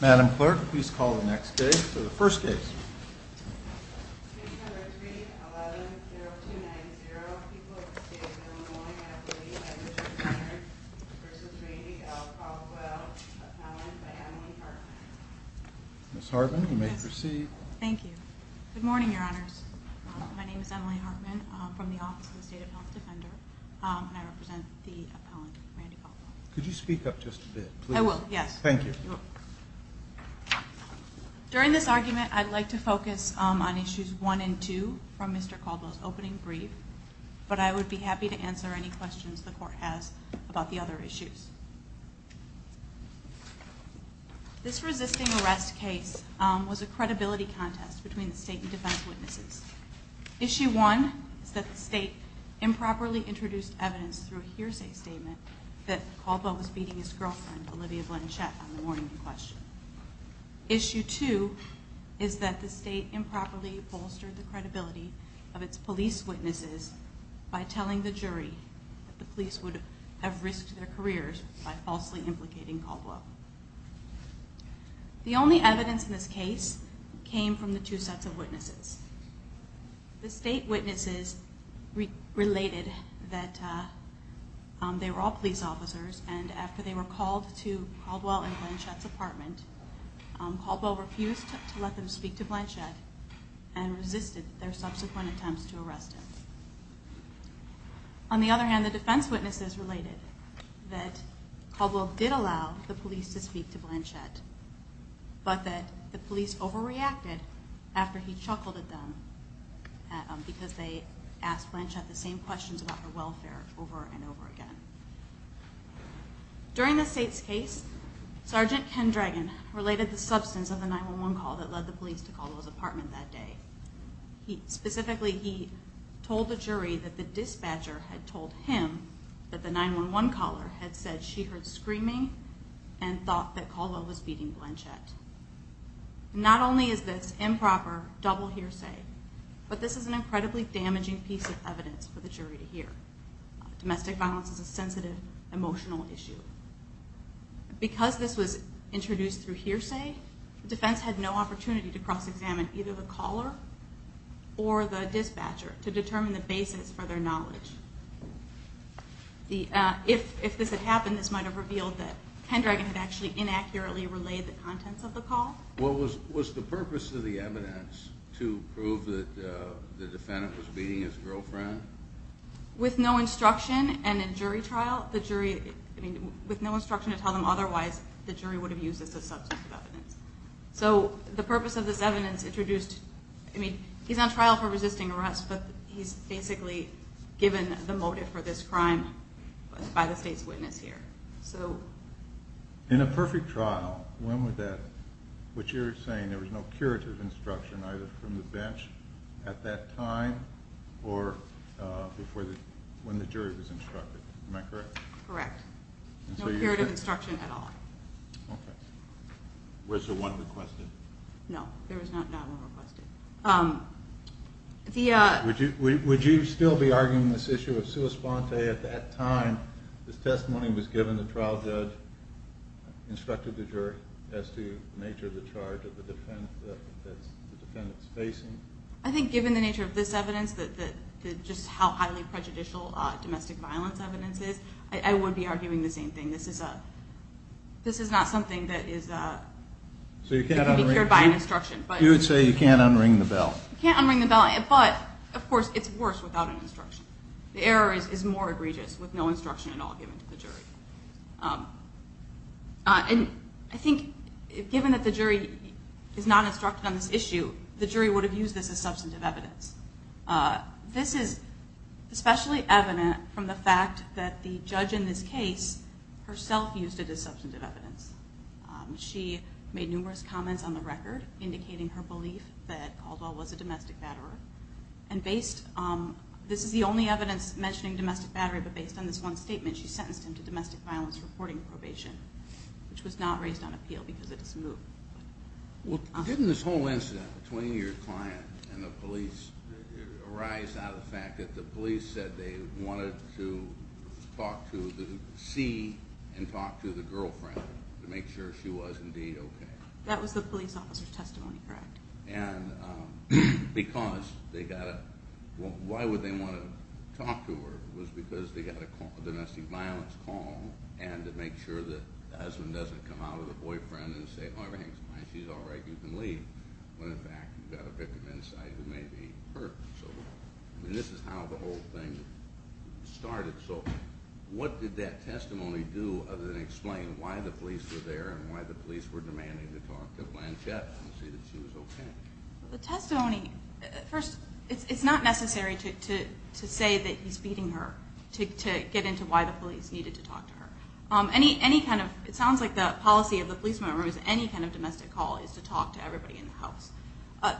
Madam Clerk, please call the next case, or the first case. Ms. Hartman, you may proceed. Thank you. Good morning, Your Honors. My name is Emily Hartman. I'm from the Office of the State of Health Defender, and I represent the appellant, Randy Caldwell. Could you speak up just a bit, please? I will, yes. Thank you. During this argument, I'd like to focus on Issues 1 and 2 from Mr. Caldwell's opening brief, but I would be happy to answer any questions the Court has about the other issues. This resisting arrest case was a credibility contest between the State and defense witnesses. Issue 1 is that the State improperly introduced evidence through a hearsay statement that Caldwell was beating his girlfriend, Olivia Blanchett, on the morning in question. Issue 2 is that the State improperly bolstered the credibility of its police witnesses by telling the jury that the police would have risked their careers by falsely implicating Caldwell. The only evidence in this case came from the two sets of witnesses. The State witnesses related that they were all police officers, and after they were called to Caldwell and Blanchett's apartment, Caldwell refused to let them speak to Blanchett and resisted their subsequent attempts to arrest him. On the other hand, the defense witnesses related that Caldwell did allow the police to speak to Blanchett, but that the police overreacted after he chuckled at them because they asked Blanchett the same questions about her welfare over and over again. During the State's case, Sergeant Ken Dragon related the substance of the 911 call that led the police to Caldwell's apartment that day. Specifically, he told the jury that the dispatcher had told him that the 911 caller had said she heard screaming and thought that Caldwell was beating Blanchett. Not only is this improper double hearsay, but this is an incredibly damaging piece of evidence for the jury to hear. Domestic violence is a sensitive, emotional issue. Because this was introduced through hearsay, the defense had no opportunity to cross-examine either the caller or the dispatcher to determine the basis for their knowledge. If this had happened, this might have revealed that Ken Dragon had actually inaccurately relayed the contents of the call. Was the purpose of the evidence to prove that the defendant was beating his girlfriend? With no instruction and a jury trial, the jury, I mean, with no instruction to tell them otherwise, the jury would have used this as substance of evidence. So, the purpose of this evidence introduced, I mean, he's on trial for resisting arrest, but he's basically given the motive for this crime by the State's witness here. In a perfect trial, when would that, which you're saying there was no curative instruction either from the bench at that time or when the jury was instructed, am I correct? Correct. No curative instruction at all. Okay. Was there one requested? No, there was not one requested. Would you still be arguing this issue of sua sponte at that time the testimony was given, the trial judge instructed the jury as to the nature of the charge that the defendant is facing? I think given the nature of this evidence, just how highly prejudicial domestic violence evidence is, I would be arguing the same thing. This is not something that can be cured by an instruction. You would say you can't unring the bell. You can't unring the bell, but, of course, it's worse without an instruction. The error is more egregious with no instruction at all given to the jury. And I think given that the jury is not instructed on this issue, the jury would have used this as substantive evidence. This is especially evident from the fact that the judge in this case herself used it as substantive evidence. She made numerous comments on the record indicating her belief that Caldwell was a domestic batterer. And based – this is the only evidence mentioning domestic battery, but based on this one statement, she sentenced him to domestic violence reporting probation, which was not raised on appeal because of this move. Well, didn't this whole incident between your client and the police arise out of the fact that the police said they wanted to talk to the – see and talk to the girlfriend to make sure she was indeed okay? That was the police officer's testimony, correct. And because they got a – well, why would they want to talk to her? It was because they got a domestic violence call and to make sure that the husband doesn't come out with a boyfriend and say, oh, everything's fine, she's all right, you can leave. When, in fact, you've got a victim inside who may be hurt. So this is how the whole thing started. So what did that testimony do other than explain why the police were there and why the police were demanding to talk to Blanchette and see that she was okay? The testimony – first, it's not necessary to say that he's beating her to get into why the police needed to talk to her. Any kind of – it sounds like the policy of the policeman was any kind of domestic call is to talk to everybody in the house.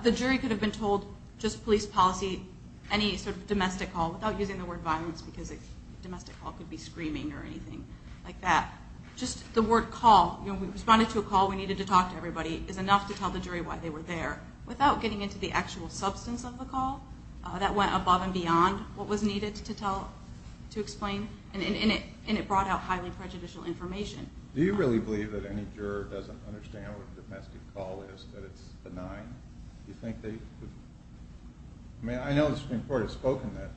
The jury could have been told just police policy, any sort of domestic call, without using the word violence because a domestic call could be screaming or anything like that. Just the word call, you know, we responded to a call, we needed to talk to everybody, is enough to tell the jury why they were there. Without getting into the actual substance of the call, that went above and beyond what was needed to tell – to explain, and it brought out highly prejudicial information. Do you really believe that any juror doesn't understand what a domestic call is, that it's benign? Do you think they – I mean, I know the Supreme Court has spoken that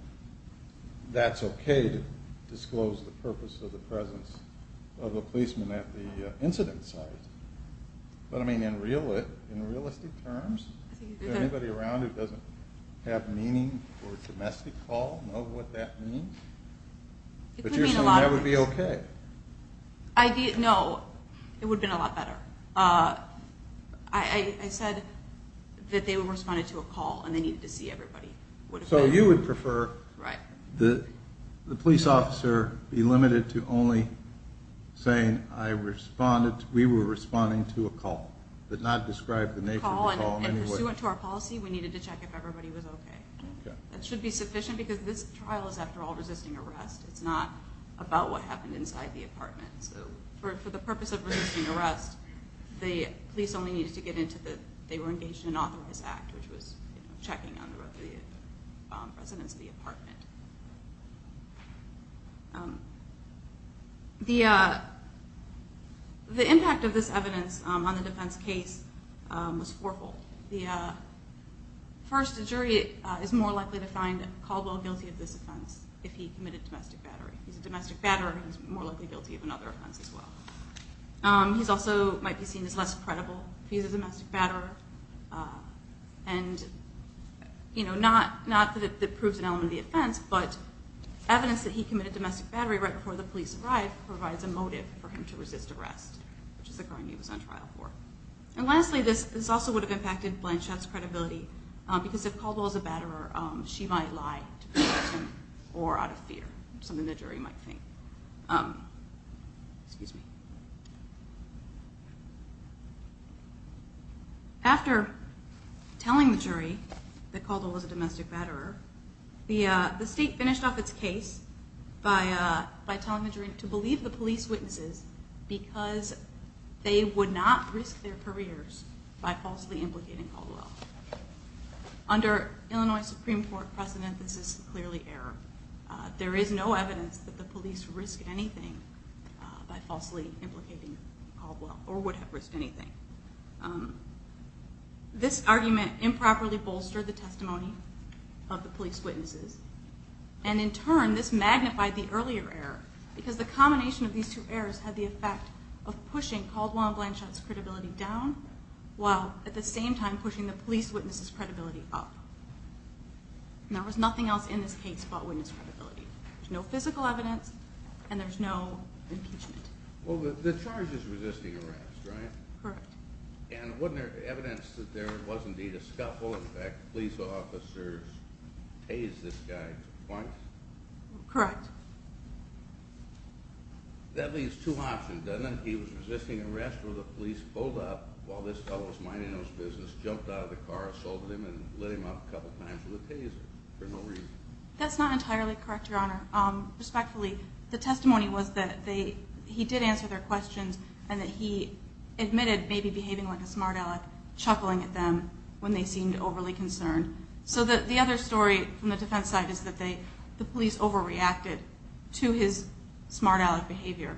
that's okay to disclose the purpose of the presence of a policeman at the incident site. But, I mean, in realistic terms, is there anybody around who doesn't have meaning for a domestic call, know what that means? No, it would have been a lot better. I said that they responded to a call and they needed to see everybody. So you would prefer the police officer be limited to only saying, I responded – we were responding to a call, but not describe the nature of the call in any way. If it was suitable to our policy, we needed to check if everybody was okay. That should be sufficient because this trial is, after all, resisting arrest. It's not about what happened inside the apartment. So for the purpose of resisting arrest, the police only needed to get into the – they were engaged in an authorized act, which was checking on the residents of the apartment. The impact of this evidence on the defense case was fourfold. First, a jury is more likely to find Caldwell guilty of this offense if he committed domestic battery. He's a domestic batterer and he's more likely guilty of another offense as well. He also might be seen as less credible if he's a domestic batterer. And not that it proves an element of the offense, but evidence that he committed domestic battery right before the police arrived provides a motive for him to resist arrest, which is the crime he was on trial for. And lastly, this also would have impacted Blanchett's credibility because if Caldwell is a batterer, she might lie to protect him or out of fear, something the jury might think. After telling the jury that Caldwell was a domestic batterer, the state finished off its case by telling the jury to believe the police witnesses because they would not risk their careers by falsely implicating Caldwell. Under Illinois Supreme Court precedent, this is clearly error. There is no evidence that the police risk anything by falsely implicating Caldwell or would have risked anything. This argument improperly bolstered the testimony of the police witnesses and in turn, this magnified the earlier error because the combination of these two errors had the effect of pushing Caldwell and Blanchett's credibility down while at the same time pushing the police witnesses' credibility up. There was nothing else in this case about witness credibility. There's no physical evidence and there's no impeachment. Well, the charge is resisting arrest, right? Correct. And wasn't there evidence that there was indeed a scuffle, in fact police officers tased this guy twice? Correct. That leaves two options, doesn't it? He was resisting arrest where the police pulled up while this fellow was minding his business, jumped out of the car, assaulted him and lit him up a couple times with a taser for no reason. That's not entirely correct, Your Honor. Respectfully, the testimony was that he did answer their questions and that he admitted maybe behaving like a smart aleck, chuckling at them when they seemed overly concerned. So the other story from the defense side is that the police overreacted to his smart aleck behavior,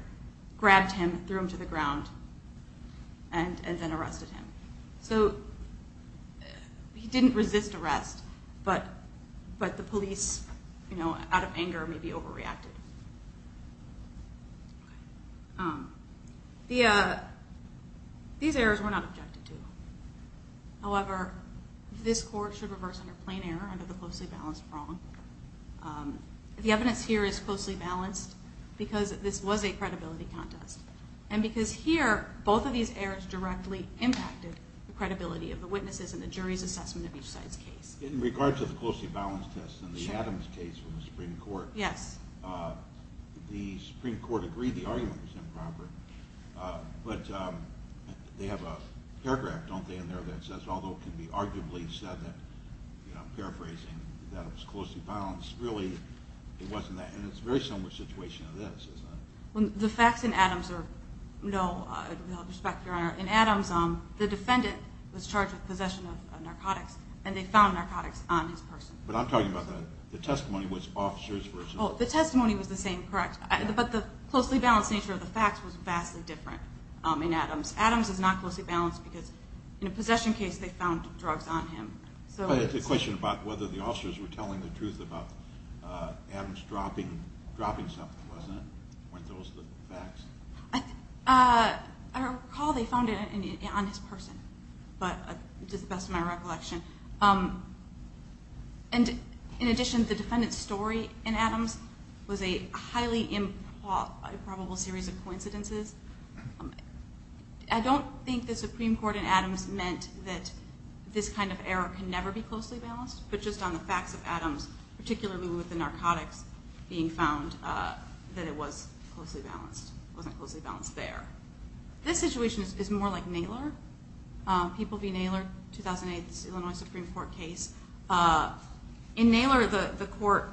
grabbed him, threw him to the ground, and then arrested him. So he didn't resist arrest, but the police, out of anger, maybe overreacted. These errors were not objected to. However, this court should reverse under plain error, under the closely balanced prong. The evidence here is closely balanced because this was a credibility contest, and because here both of these errors directly impacted the credibility of the witnesses and the jury's assessment of each side's case. In regard to the closely balanced test and the Adams case from the Supreme Court, the Supreme Court agreed the argument was improper, but they have a paragraph, don't they, in there that says, although it can be arguably said that, you know, I'm paraphrasing, that it was closely balanced, really it wasn't that. And it's a very similar situation to this, isn't it? The facts in Adams are, no, with all due respect, Your Honor, in Adams, the defendant was charged with possession of narcotics, and they found narcotics on his person. But I'm talking about the testimony was officers versus... Oh, the testimony was the same, correct. But the closely balanced nature of the facts was vastly different in Adams. Adams is not closely balanced because in a possession case they found drugs on him. I had a question about whether the officers were telling the truth about Adams dropping something, wasn't it? Weren't those the facts? I recall they found it on his person, but it's just the best of my recollection. And in addition, the defendant's story in Adams was a highly improbable series of coincidences. I don't think the Supreme Court in Adams meant that this kind of error can never be closely balanced, but just on the facts of Adams, particularly with the narcotics being found, that it was closely balanced. It wasn't closely balanced there. This situation is more like Naylor. People v. Naylor, 2008, this Illinois Supreme Court case. In Naylor, the court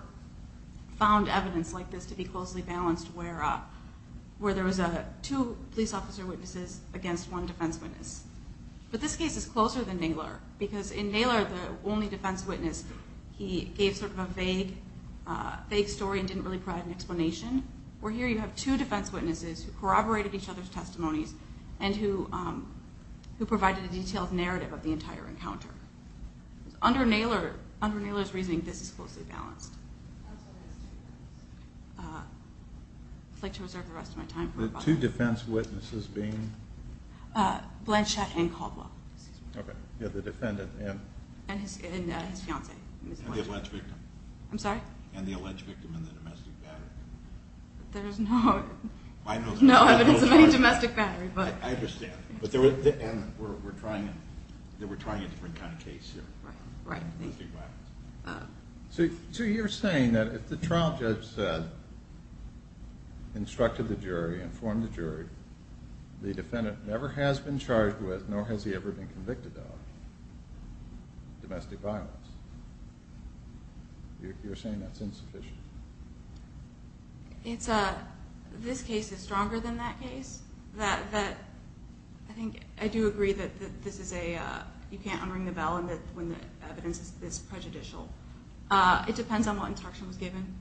found evidence like this to be closely balanced where there was two police officer witnesses against one defense witness. But this case is closer than Naylor because in Naylor, the only defense witness, he gave sort of a vague story and didn't really provide an explanation, where here you have two defense witnesses who corroborated each other's testimonies and who provided a detailed narrative of the entire encounter. Under Naylor's reasoning, this is closely balanced. I'd like to reserve the rest of my time for rebuttal. The two defense witnesses being? Blanchett and Caldwell. Okay. Yeah, the defendant and? And his fiancée. And the alleged victim. I'm sorry? And the alleged victim and the domestic battery. There's no evidence of any domestic battery. I understand. And we're trying a different kind of case here. Right. Domestic violence. So you're saying that if the trial judge said, instructed the jury, informed the jury, the defendant never has been charged with nor has he ever been convicted of domestic violence, you're saying that's insufficient? This case is stronger than that case. I think I do agree that you can't unring the bell when the evidence is prejudicial. It depends on what instruction was given,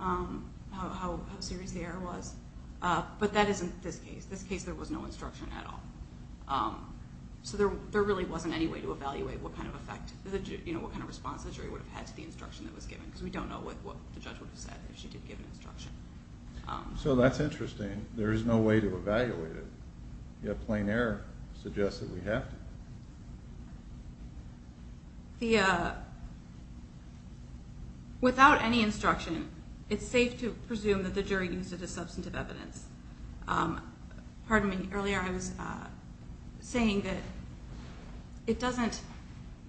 how serious the error was. But that isn't this case. This case there was no instruction at all. So there really wasn't any way to evaluate what kind of effect, what kind of response the jury would have had to the instruction that was given because we don't know what the judge would have said if she did give an instruction. So that's interesting. There is no way to evaluate it, yet plain error suggests that we have to. Without any instruction, it's safe to presume that the jury used it as substantive evidence. Earlier I was saying that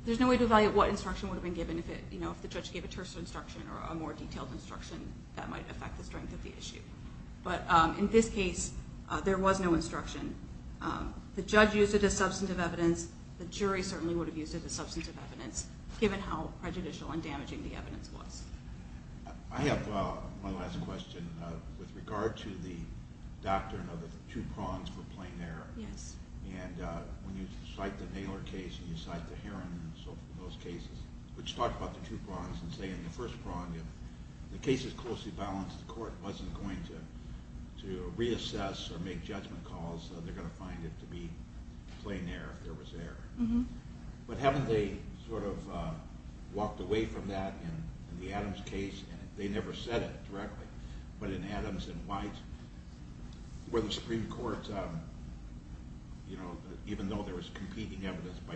there's no way to evaluate what instruction would have been given if the judge gave a terse instruction or a more detailed instruction that might affect the strength of the issue. But in this case, there was no instruction. The judge used it as substantive evidence. The jury certainly would have used it as substantive evidence given how prejudicial and damaging the evidence was. I have one last question with regard to the doctrine of the two prongs for plain error. Yes. And when you cite the Naylor case and you cite the Heron and those cases, which talk about the two prongs and say in the first prong, if the case is closely balanced, the court wasn't going to reassess or make judgment calls. They're going to find it to be plain error if there was error. But haven't they sort of walked away from that in the Adams case? They never said it directly. But in Adams and White, where the Supreme Court, even though there was competing evidence by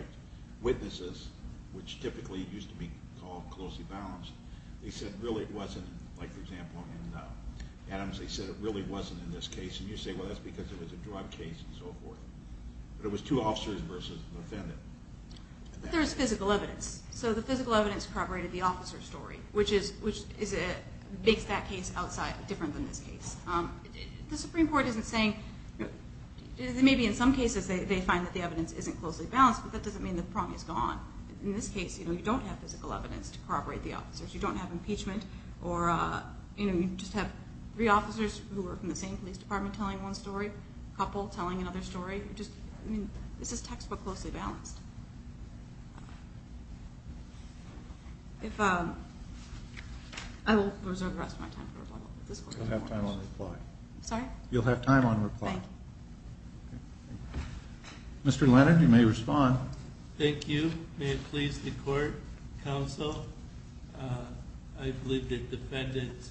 witnesses, which typically used to be called closely balanced, they said really it wasn't, like for example in Adams, they said it really wasn't in this case. And you say, well, that's because it was a drug case and so forth. But it was two officers versus an offendant. But there was physical evidence. So the physical evidence corroborated the officer's story, which makes that case different than this case. The Supreme Court isn't saying, maybe in some cases they find that the evidence isn't closely balanced, but that doesn't mean the prong is gone. In this case, you don't have physical evidence to corroborate the officer's. You don't have impeachment or you just have three officers who are from the same police department telling one story, a couple telling another story. This is textbook closely balanced. I will reserve the rest of my time for rebuttal. You'll have time on reply. Sorry? You'll have time on reply. Thank you. Mr. Leonard, you may respond. Thank you. May it please the court, counsel, I believe the defendant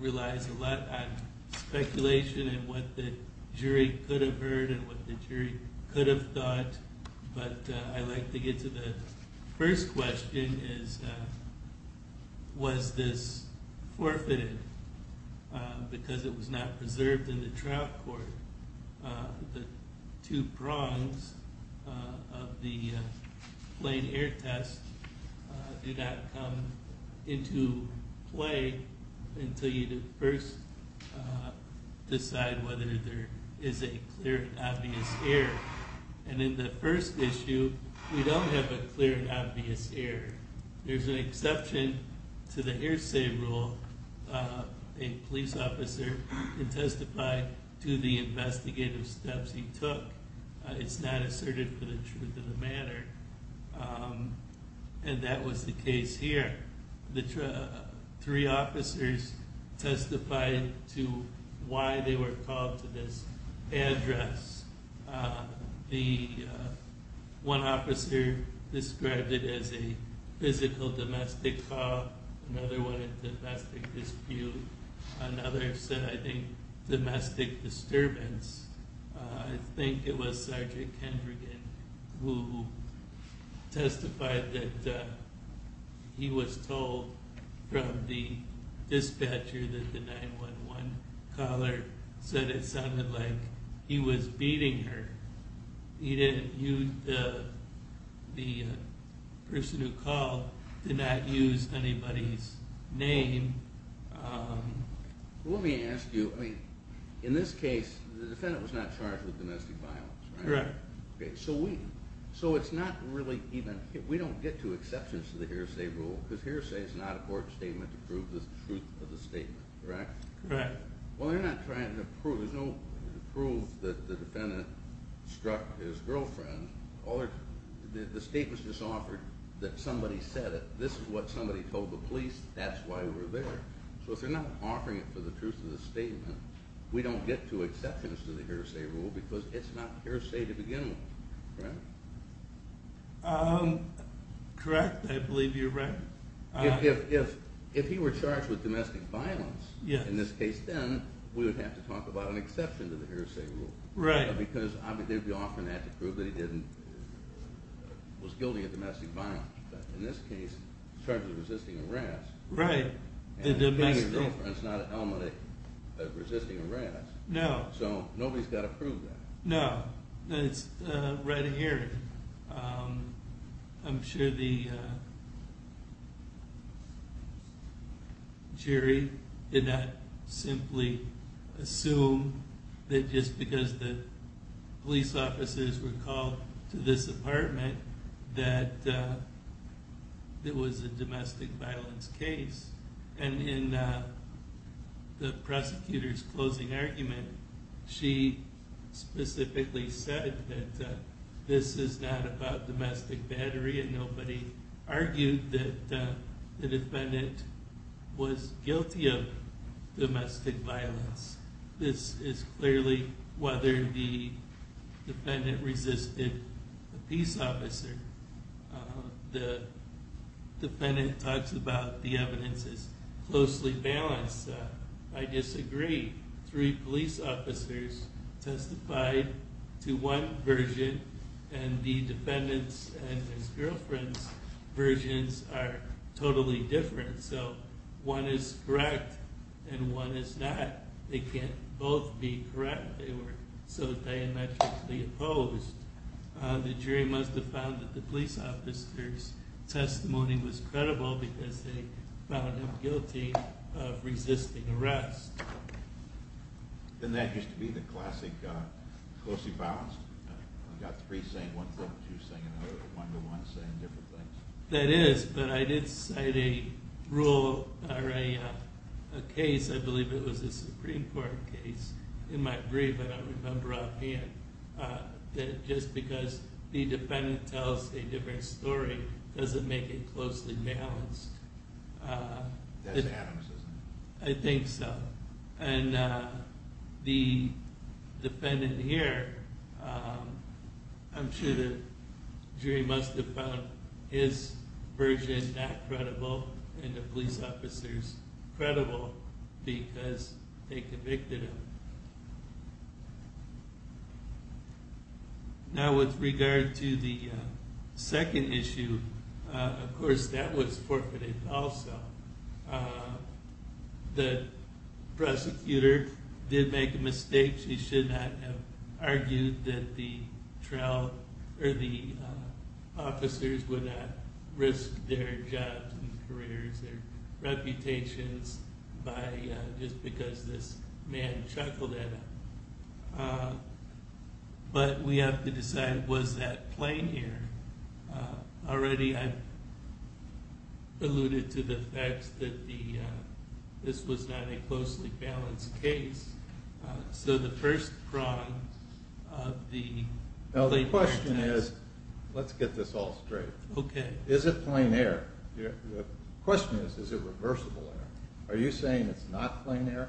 relies a lot on speculation and what the jury could have heard and what the jury could have thought. But I'd like to get to the first question, was this forfeited because it was not preserved in the trial court? The two prongs of the plain air test do not come into play until you first decide whether there is a clear and obvious error. And in the first issue, we don't have a clear and obvious error. There's an exception to the hearsay rule. A police officer can testify to the investigative steps he took. It's not asserted for the truth of the matter. And that was the case here. The three officers testified to why they were called to this address. One officer described it as a physical domestic call, another one a domestic dispute, another said, I think, domestic disturbance. I think it was Sergeant Kendrigan who testified that he was told from the dispatcher that the 911 caller said it sounded like he was beating her. He didn't use the person who called, did not use anybody's name. Let me ask you, in this case, the defendant was not charged with domestic violence, right? Correct. So it's not really even, we don't get to exceptions to the hearsay rule because hearsay is not a court statement to prove the truth of the statement, correct? Correct. Well, they're not trying to prove, there's no proof that the defendant struck his girlfriend. The statement's just offered that somebody said it. This is what somebody told the police, that's why we were there. So if they're not offering it for the truth of the statement, we don't get to exceptions to the hearsay rule because it's not hearsay to begin with, correct? Correct, I believe you're right. If he were charged with domestic violence, in this case then, we would have to talk about an exception to the hearsay rule because they'd be offering that to prove that he was guilty of domestic violence. But in this case, he's charged with resisting arrest. Right. And beating his girlfriend is not an element of resisting arrest. No. So nobody's got to prove that. No. It's right here. I'm sure the jury did not simply assume that just because the police officers were called to this apartment that it was a domestic violence case. And in the prosecutor's closing argument, she specifically said that this is not about domestic battery and nobody argued that the defendant was guilty of domestic violence. This is clearly whether the defendant resisted a peace officer. The defendant talks about the evidence is closely balanced. I disagree. Three police officers testified to one version, and the defendant's and his girlfriend's versions are totally different. So one is correct and one is not. They can't both be correct. They were so diametrically opposed. The jury must have found that the police officer's testimony was credible because they found him guilty of resisting arrest. And that used to be the classic closely balanced? You've got three saying one thing, two saying another, one to one saying different things. That is, but I did cite a rule or a case. I believe it was a Supreme Court case. In my brief, I don't remember offhand, that just because the defendant tells a different story doesn't make it closely balanced. That's Adams, isn't it? I think so. And the defendant here, I'm sure the jury must have found his version not credible and the police officer's credible because they convicted him. Now with regard to the second issue, of course that was forfeited also. The prosecutor did make a mistake. She should not have argued that the officers would not risk their jobs and careers, their reputations, just because this man chuckled at them. But we have to decide, was that plain here? Already I've alluded to the fact that this was not a closely balanced case. So the first prong of the plain air test. Now the question is, let's get this all straight. Okay. Is it plain air? The question is, is it reversible air? Are you saying it's not plain air?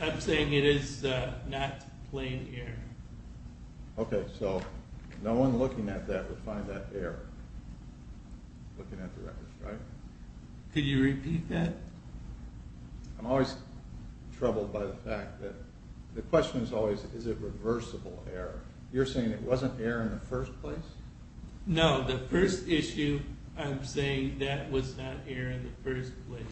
I'm saying it is not plain air. Okay, so no one looking at that would find that air, looking at the record, right? Could you repeat that? I'm always troubled by the fact that the question is always, is it reversible air? You're saying it wasn't air in the first place? No, the first issue, I'm saying that was not air in the first place.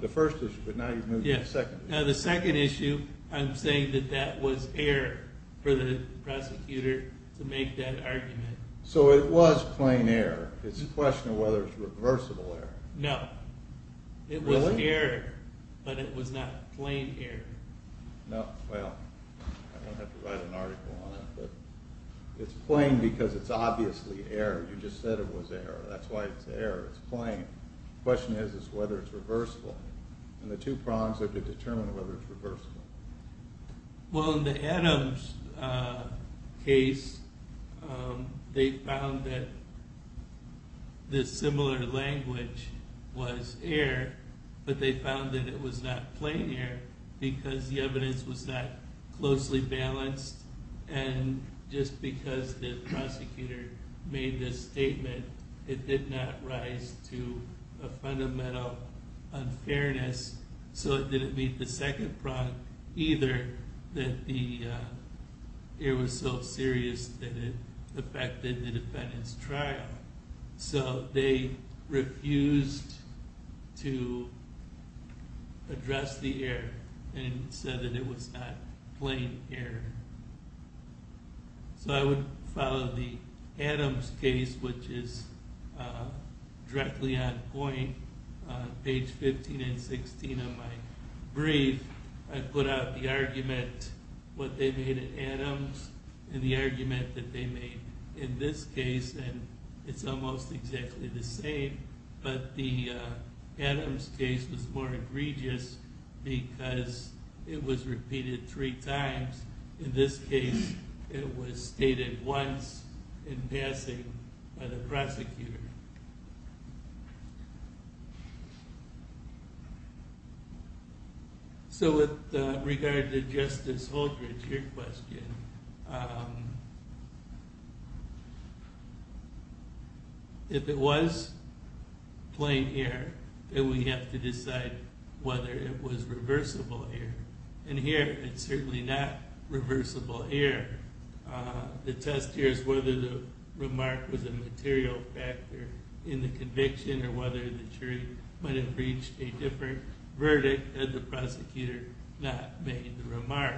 The first issue, but now you've moved to the second issue. Now the second issue, I'm saying that that was air for the prosecutor to make that argument. So it was plain air. It's a question of whether it's reversible air. No. Really? It was air, but it was not plain air. No, well, I don't have to write an article on it, but it's plain because it's obviously air. You just said it was air. That's why it's air. It's plain. The question is, is whether it's reversible. And the two prongs are to determine whether it's reversible. Well, in the Adams case, they found that the similar language was air, but they found that it was not plain air because the evidence was not closely balanced. And just because the prosecutor made this statement, it did not rise to a fundamental unfairness. So it didn't meet the second prong either that the air was so serious that it affected the defendant's trial. So they refused to address the air and said that it was not plain air. So I would follow the Adams case, which is directly on point, page 15 and 16 of my brief. I put out the argument, what they made at Adams, and the argument that they made in this case. And it's almost exactly the same, but the Adams case was more egregious because it was repeated three times. In this case, it was stated once in passing by the prosecutor. So with regard to Justice Holdridge, your question. If it was plain air, then we have to decide whether it was reversible air. And here, it's certainly not reversible air. The test here is whether the remark was a material factor in the conviction, or whether the jury might have reached a different verdict had the prosecutor not made the remark.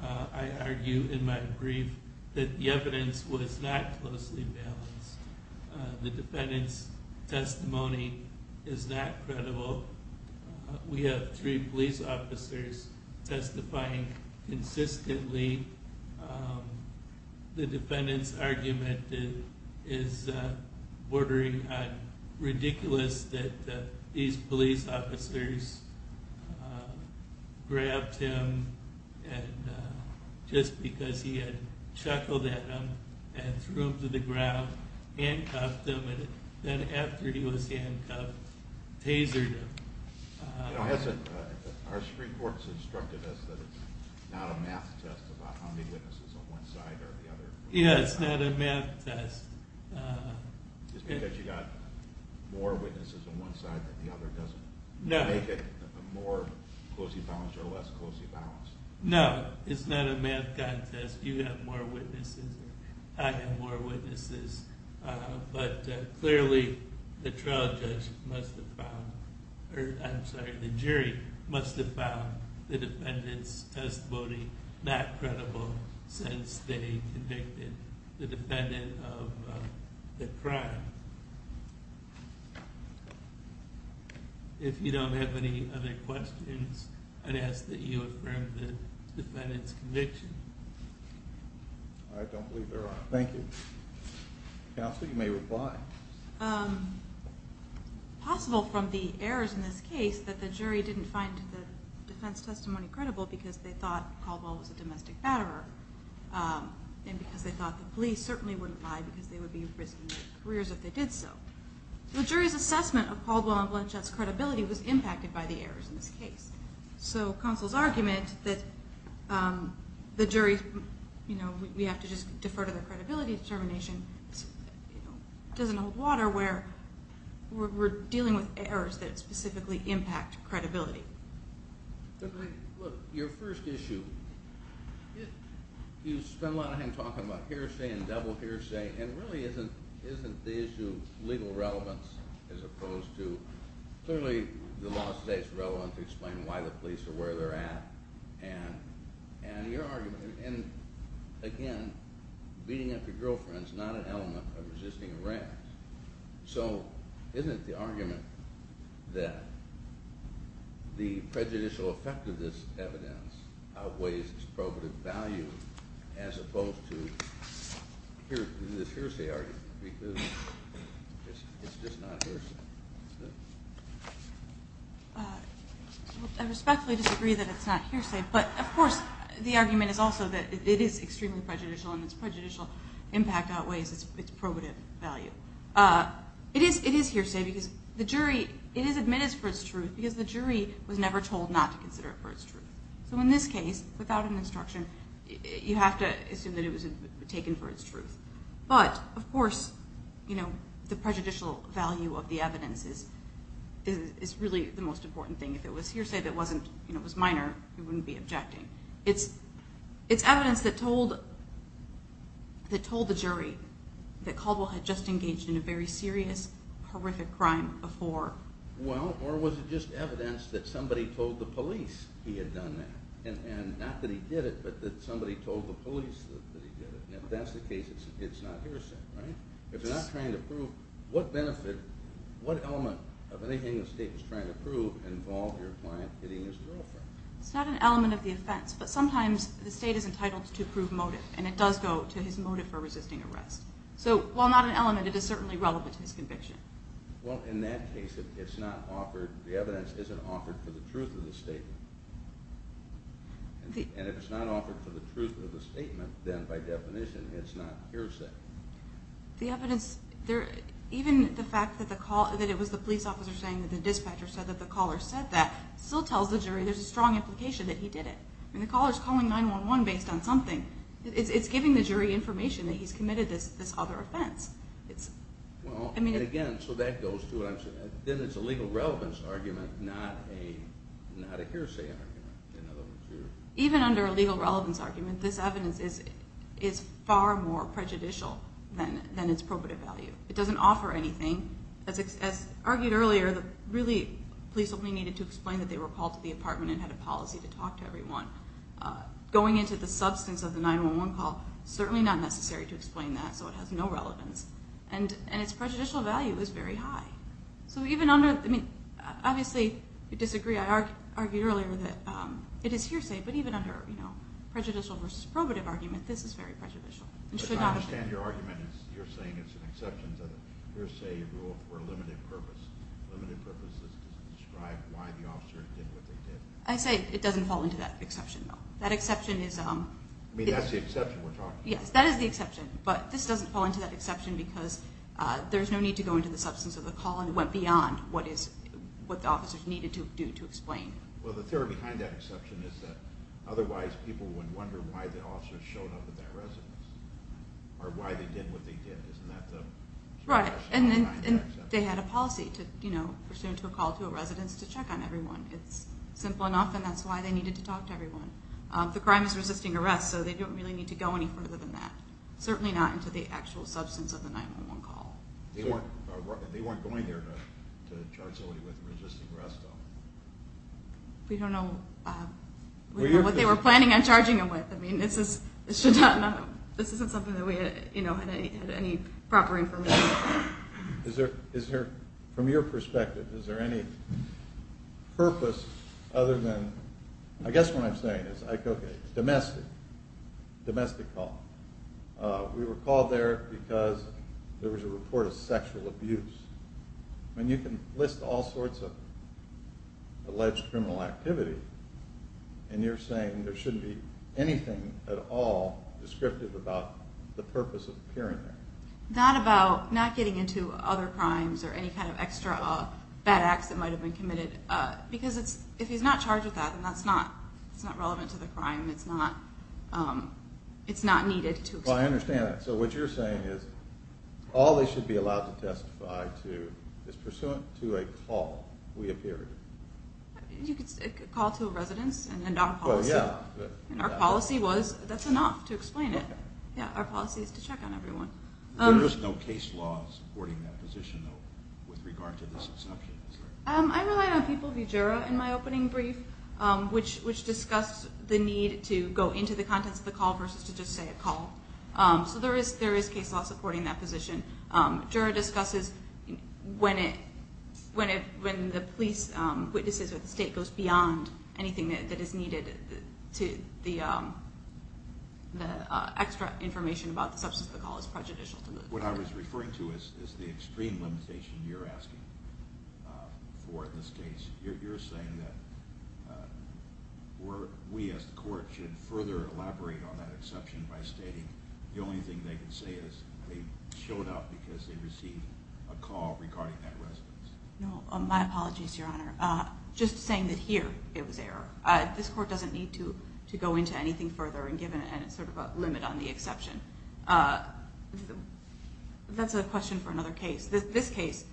I argue in my brief that the evidence was not closely balanced. The defendant's testimony is not credible. We have three police officers testifying consistently. The defendant's argument is bordering on ridiculous that these police officers grabbed him just because he had chuckled at him and threw him to the ground, handcuffed him, and then after he was handcuffed, tasered him. Our Supreme Court has instructed us that it's not a math test about how many witnesses on one side or the other. Yeah, it's not a math test. It's because you've got more witnesses on one side than the other doesn't make it more closely balanced or less closely balanced. No, it's not a math contest. You have more witnesses. I have more witnesses. But clearly, the jury must have found the defendant's testimony not credible since they convicted the defendant of the crime. If you don't have any other questions, I'd ask that you affirm the defendant's conviction. I don't believe there are. Thank you. Counsel, you may reply. It's possible from the errors in this case that the jury didn't find the defense testimony credible because they thought Caldwell was a domestic batterer and because they thought the police certainly wouldn't lie because they would be risking their careers if they did so. The jury's assessment of Caldwell and Blanchett's credibility was impacted by the errors in this case. So counsel's argument that the jury, you know, we have to just defer to their credibility determination doesn't hold water where we're dealing with errors that specifically impact credibility. Your first issue, you spend a lot of time talking about hearsay and double hearsay and really isn't the issue legal relevance as opposed to, clearly the law today is relevant to explain why the police are where they're at and your argument, and again, beating up your girlfriend is not an element of resisting arrest. So isn't the argument that the prejudicial effect of this evidence outweighs its probative value as opposed to this hearsay argument because it's just not hearsay? I respectfully disagree that it's not hearsay, but of course the argument is also that it is extremely prejudicial and its prejudicial impact outweighs its probative value. It is hearsay because the jury, it is admittance for its truth because the jury was never told not to consider it for its truth. So in this case, without an instruction, you have to assume that it was taken for its truth. But of course, you know, the prejudicial value of the evidence is really the most important thing. If it was hearsay that was minor, we wouldn't be objecting. It's evidence that told the jury that Caldwell had just engaged in a very serious, horrific crime before. Well, or was it just evidence that somebody told the police he had done that? And not that he did it, but that somebody told the police that he did it. If that's the case, it's not hearsay, right? If you're not trying to prove, what benefit, what element of anything the state is trying to prove involved your client hitting his girlfriend? It's not an element of the offense, but sometimes the state is entitled to prove motive, and it does go to his motive for resisting arrest. So while not an element, it is certainly relevant to his conviction. Well, in that case, the evidence isn't offered for the truth of the statement. And if it's not offered for the truth of the statement, then by definition, it's not hearsay. The evidence, even the fact that it was the police officer saying that the dispatcher said that the caller said that still tells the jury there's a strong implication that he did it. I mean, the caller's calling 911 based on something. It's giving the jury information that he's committed this other offense. Well, and again, so that goes to what I'm saying. Then it's a legal relevance argument, not a hearsay argument, in other words. Even under a legal relevance argument, this evidence is far more prejudicial than its probative value. It doesn't offer anything. As argued earlier, the police only needed to explain that they were called to the apartment and had a policy to talk to everyone. Going into the substance of the 911 call, certainly not necessary to explain that, so it has no relevance, and its prejudicial value is very high. So even under, I mean, obviously you disagree. I argued earlier that it is hearsay, but even under prejudicial versus probative argument, this is very prejudicial. But I understand your argument is you're saying it's an exception to the hearsay rule for a limited purpose. Limited purpose is to describe why the officer did what they did. I say it doesn't fall into that exception, though. That exception is- I mean, that's the exception we're talking about. Yes, that is the exception, but this doesn't fall into that exception because there's no need to go into the substance of the call, and it went beyond what the officers needed to do to explain. Well, the theory behind that exception is that otherwise people would wonder why the officers showed up at that residence or why they did what they did. Isn't that the- Right, and they had a policy to, you know, pursue to a call to a residence to check on everyone. The crime is resisting arrest, so they don't really need to go any further than that, certainly not into the actual substance of the 911 call. They weren't going there to charge somebody with resisting arrest, though. We don't know what they were planning on charging them with. I mean, this is-this should not-this isn't something that we, you know, had any proper information on. Is there-from your perspective, is there any purpose other than-I guess what I'm saying is, like, okay, domestic. Domestic call. We were called there because there was a report of sexual abuse. I mean, you can list all sorts of alleged criminal activity, and you're saying there shouldn't be anything at all descriptive about the purpose of appearing there. Not about-not getting into other crimes or any kind of extra bad acts that might have been committed, because if he's not charged with that, then that's not relevant to the crime. It's not needed to explain. Well, I understand that. So what you're saying is all they should be allowed to testify to is pursuant to a call, we appeared. You could say a call to a residence and not a policy. Well, yeah. And our policy was that's enough to explain it. Yeah, our policy is to check on everyone. There is no case law supporting that position, though, with regard to this exception. I'm relying on people who juror in my opening brief, which discuss the need to go into the contents of the call versus to just say a call. So there is case law supporting that position. Juror discusses when the police witnesses or the state goes beyond anything that is needed, the extra information about the substance of the call is prejudicial. What I was referring to is the extreme limitation you're asking for in this case. You're saying that we as the court should further elaborate on that exception by stating the only thing they can say is they showed up because they received a call regarding that residence. No, my apologies, Your Honor. Just saying that here it was error. This court doesn't need to go into anything further, and it's sort of a limit on the exception. That's a question for another case. This case,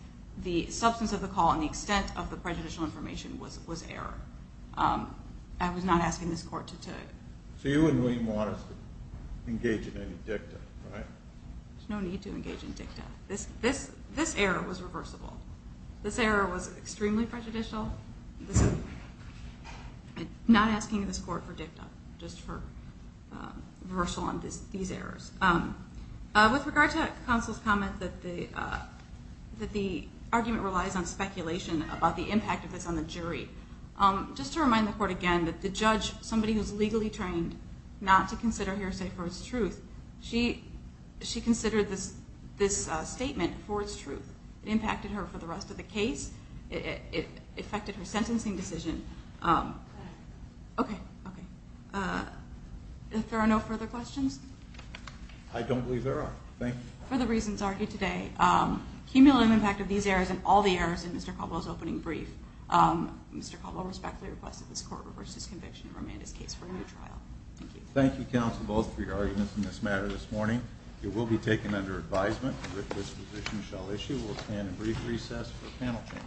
the substance of the call and the extent of the prejudicial information was error. I was not asking this court to- So you and William want us to engage in any dicta, right? There's no need to engage in dicta. This error was reversible. This error was extremely prejudicial. I'm not asking this court for dicta, just for reversal on these errors. With regard to counsel's comment that the argument relies on speculation about the impact of this on the jury, just to remind the court again that the judge, somebody who's legally trained not to consider hearsay for its truth, she considered this statement for its truth. It impacted her for the rest of the case. It affected her sentencing decision. Okay, okay. If there are no further questions? I don't believe there are. Thank you. For the reasons argued today, cumulative impact of these errors and all the errors in Mr. Caldwell's opening brief Mr. Caldwell respectfully requests that this court reverse his conviction and remand his case for a new trial. Thank you. Thank you, counsel, both for your arguments in this matter this morning. It will be taken under advisement that this position shall issue. We'll stand in brief recess for panel change.